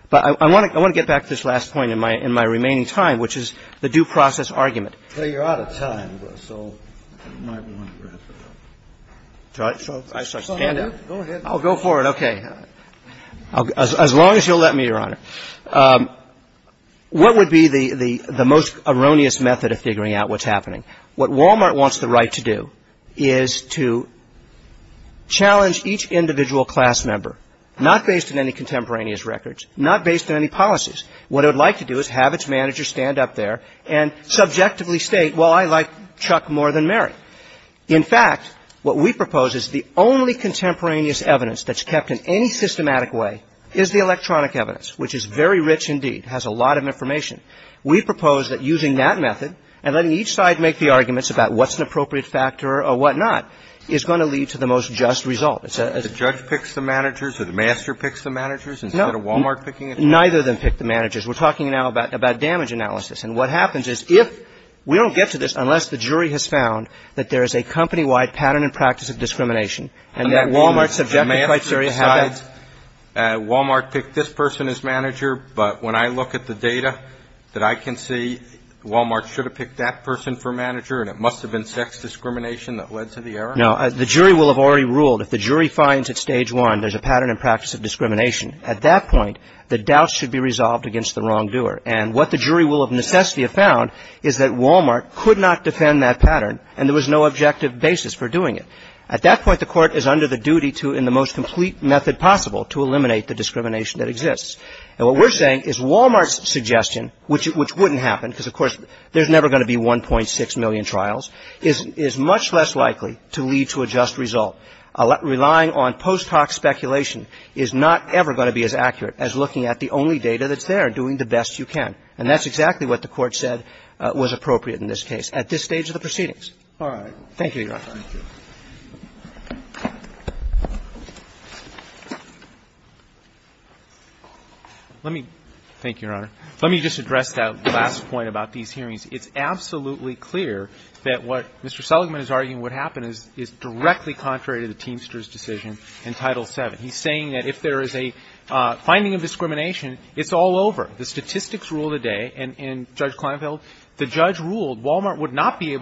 But I want to get back to this last point in my remaining time, which is the due process argument. Kennedy. Well, you're out of time, so you might want to wrap it up. So I stand up? Go ahead. I'll go for it. Okay. As long as you'll let me, Your Honor. What would be the most erroneous method of figuring out what's happening? What Walmart wants the right to do is to challenge each individual class member, not based on any contemporaneous records, not based on any policies. What it would like to do is have its manager stand up there and subjectively state, well, I like Chuck more than Mary. In fact, what we propose is the only contemporaneous evidence that's kept in any systematic way is the electronic evidence, which is very rich indeed, has a lot of information. We propose that using that method and letting each side make the arguments about what's an appropriate factor or whatnot is going to lead to the most just result. The judge picks the managers or the master picks the managers instead of Walmart picking it? Neither of them pick the managers. We're talking now about damage analysis. And what happens is if we don't get to this unless the jury has found that there is a company-wide pattern and practice of discrimination and that Walmart subjectifies Walmart picked this person as manager, but when I look at the data that I can see, Walmart should have picked that person for manager and it must have been sex discrimination that led to the error? No. The jury will have already ruled. If the jury finds at Stage 1 there's a pattern and practice of discrimination, at that point the doubt should be resolved against the wrongdoer. And what the jury will have necessarily found is that Walmart could not defend that pattern and there was no objective basis for doing it. At that point, the Court is under the duty to, in the most complete method possible, to eliminate the discrimination that exists. And what we're saying is Walmart's suggestion, which wouldn't happen because, of course, there's never going to be 1.6 million trials, is much less likely to lead to a just result. Relying on post hoc speculation is not ever going to be as accurate as looking at the only data that's there and doing the best you can. And that's exactly what the Court said was appropriate in this case at this stage of the proceedings. Thank you, Your Honor. Let me, thank you, Your Honor. Let me just address that last point about these hearings. It's absolutely clear that what Mr. Seligman is arguing would happen is directly contrary to the Teamsters' decision in Title VII. He's saying that if there is a finding of discrimination, it's all over. The statistics rule today, and Judge Kleinfeld, the judge ruled Walmart would not be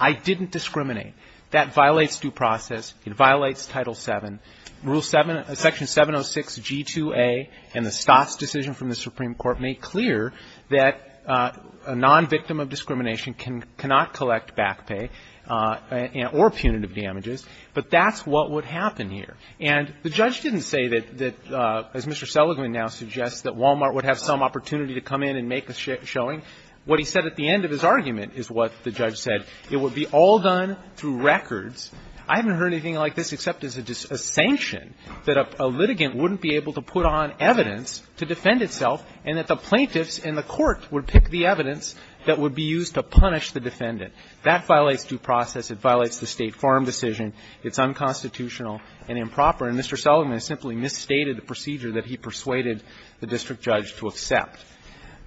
I didn't discriminate. That violates due process. It violates Title VII. Rule 7, Section 706G2A and the Stotts decision from the Supreme Court make clear that a nonvictim of discrimination cannot collect back pay or punitive damages, but that's what would happen here. And the judge didn't say that, as Mr. Seligman now suggests, that Walmart would have some opportunity to come in and make a showing. What he said at the end of his argument is what the judge said. It would be all done through records. I haven't heard anything like this except it's a sanction that a litigant wouldn't be able to put on evidence to defend itself and that the plaintiffs and the court would pick the evidence that would be used to punish the defendant. That violates due process. It violates the State Farm decision. It's unconstitutional and improper. And Mr. Seligman simply misstated the procedure that he persuaded the district judge to accept.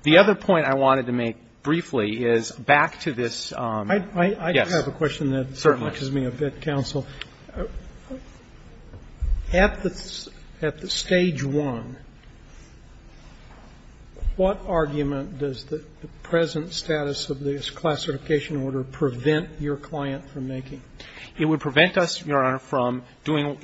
The other point I wanted to make briefly is back to this. Certainly. I have a question that confuses me a bit, counsel. At the Stage 1, what argument does the present status of this classification order prevent your client from making? It would prevent us, Your Honor, from doing,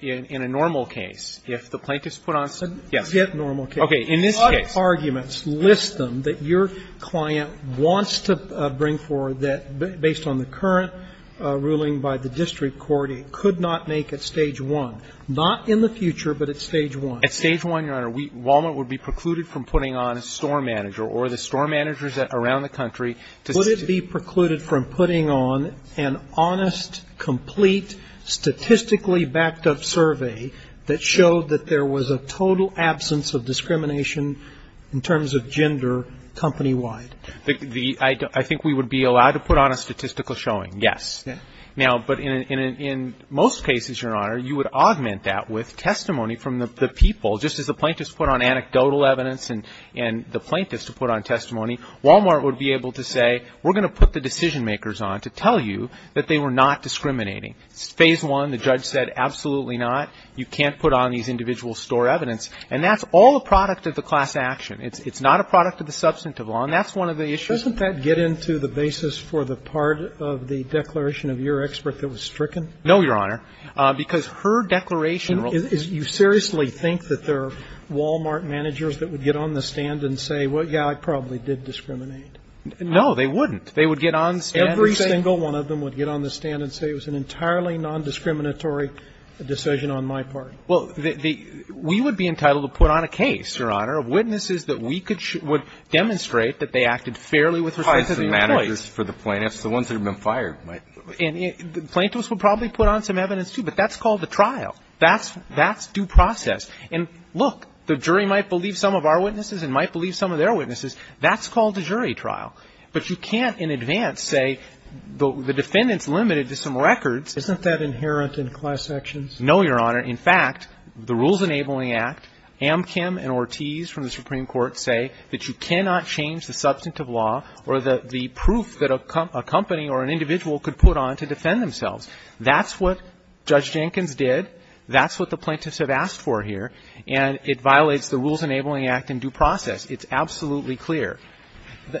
in a normal case. If the plaintiffs put on some, yes. Yet normal case. Okay, in this case. A lot of arguments list them that your client wants to bring forward that, based on the current ruling by the district court, it could not make at Stage 1. Not in the future, but at Stage 1. At Stage 1, Your Honor, Walnut would be precluded from putting on a store manager or the store managers around the country. Would it be precluded from putting on an honest, complete, statistically backed-up survey that showed that there was a total absence of discrimination in terms of gender, company-wide? I think we would be allowed to put on a statistical showing, yes. Now, but in most cases, Your Honor, you would augment that with testimony from the people. Just as the plaintiffs put on anecdotal evidence and the plaintiffs to put on testimony, Walmart would be able to say, we're going to put the decision-makers on to tell you that they were not discriminating. It's Phase 1. The judge said, absolutely not. You can't put on these individual store evidence. And that's all a product of the class action. It's not a product of the substantive law. And that's one of the issues. Doesn't that get into the basis for the part of the declaration of your expert that was stricken? No, Your Honor. Because her declaration was. You seriously think that there are Walmart managers that would get on the stand and say, well, yeah, I probably did discriminate? No, they wouldn't. They would get on the stand and say. Not a single one of them would get on the stand and say it was an entirely nondiscriminatory decision on my part. Well, we would be entitled to put on a case, Your Honor, of witnesses that we could show would demonstrate that they acted fairly with respect to the employees. It's the ones that have been fired. And the plaintiffs would probably put on some evidence, too. But that's called a trial. That's due process. And look, the jury might believe some of our witnesses and might believe some of their witnesses. That's called a jury trial. But you can't in advance say the defendant's limited to some records. Isn't that inherent in class actions? No, Your Honor. In fact, the Rules Enabling Act, Amchem and Ortiz from the Supreme Court say that you cannot change the substantive law or the proof that a company or an individual could put on to defend themselves. That's what Judge Jenkins did. That's what the plaintiffs have asked for here. And it violates the Rules Enabling Act in due process. It's absolutely clear.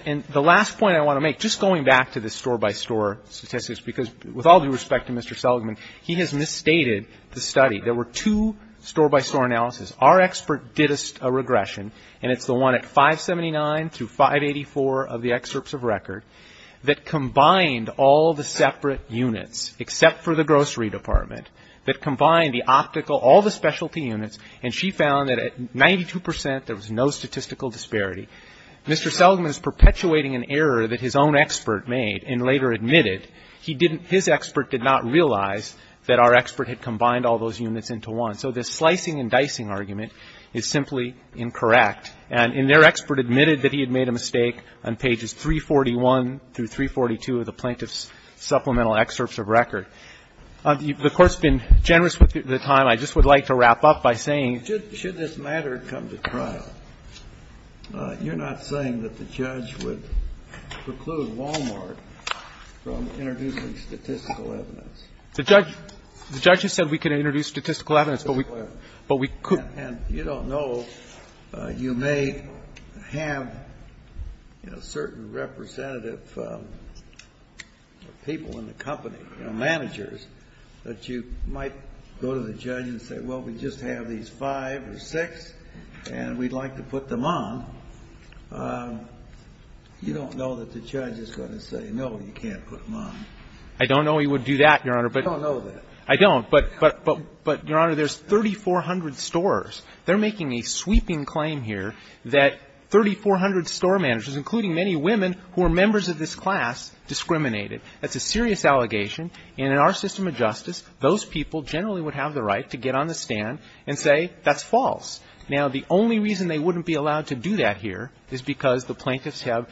And the last point I want to make, just going back to the store-by-store statistics, because with all due respect to Mr. Seligman, he has misstated the study. There were two store-by-store analyses. Our expert did a regression, and it's the one at 579 through 584 of the excerpts of record, that combined all the separate units, except for the grocery department, that combined the optical, all the specialty units, and she found that at 92 percent there was no statistical disparity. Mr. Seligman is perpetuating an error that his own expert made and later admitted he didn't – his expert did not realize that our expert had combined all those units into one. So this slicing-and-dicing argument is simply incorrect. And their expert admitted that he had made a mistake on pages 341 through 342 of the plaintiff's supplemental excerpts of record. The Court's been generous with the time. I just would like to wrap up by saying the Court's been generous with the time. I just would like to wrap up by saying the Court's been generous with the time. Kennedy, you're not saying that the judge would preclude Wal-Mart from introducing statistical evidence. The judge – the judge has said we can introduce statistical evidence, but we couldn't. And you don't know. You may have, you know, certain representative people in the company, you know, managers, that you might go to the judge and say, well, we just have these five or six and we'd like to put them on. You don't know that the judge is going to say, no, you can't put them on. I don't know he would do that, Your Honor. I don't know that. I don't. But, Your Honor, there's 3,400 stores. They're making a sweeping claim here that 3,400 store managers, including many women who are members of this class, discriminated. That's a serious allegation, and in our system of justice, those people generally would have the right to get on the stand and say that's false. Now, the only reason they wouldn't be allowed to do that here is because the plaintiffs have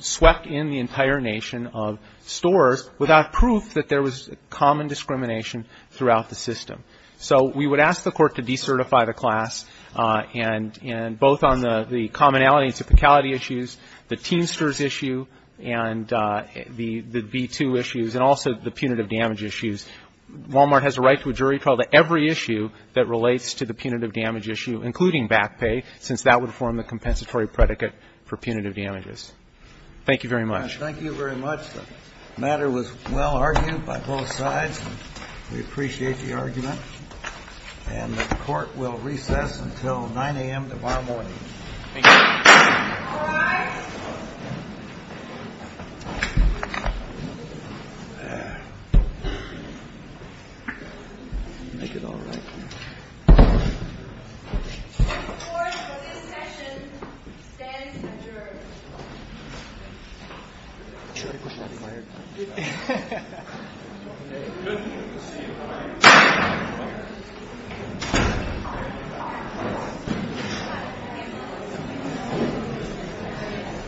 swept in the entire nation of stores without proof that there was common discrimination throughout the system. So we would ask the Court to decertify the class, and both on the commonality and typicality issues, the Teamsters issue, and the V2 issues, and also the punitive damage issues. Walmart has a right to a jury trial to every issue that relates to the punitive damage issue, including back pay, since that would form the compensatory predicate for punitive damages. Thank you very much. Thank you very much. The matter was well argued by both sides. We appreciate the argument. And the Court will recess until 9 a.m. tomorrow morning. Thank you. All rise. The Court for this session stands adjourned. The Court is adjourned.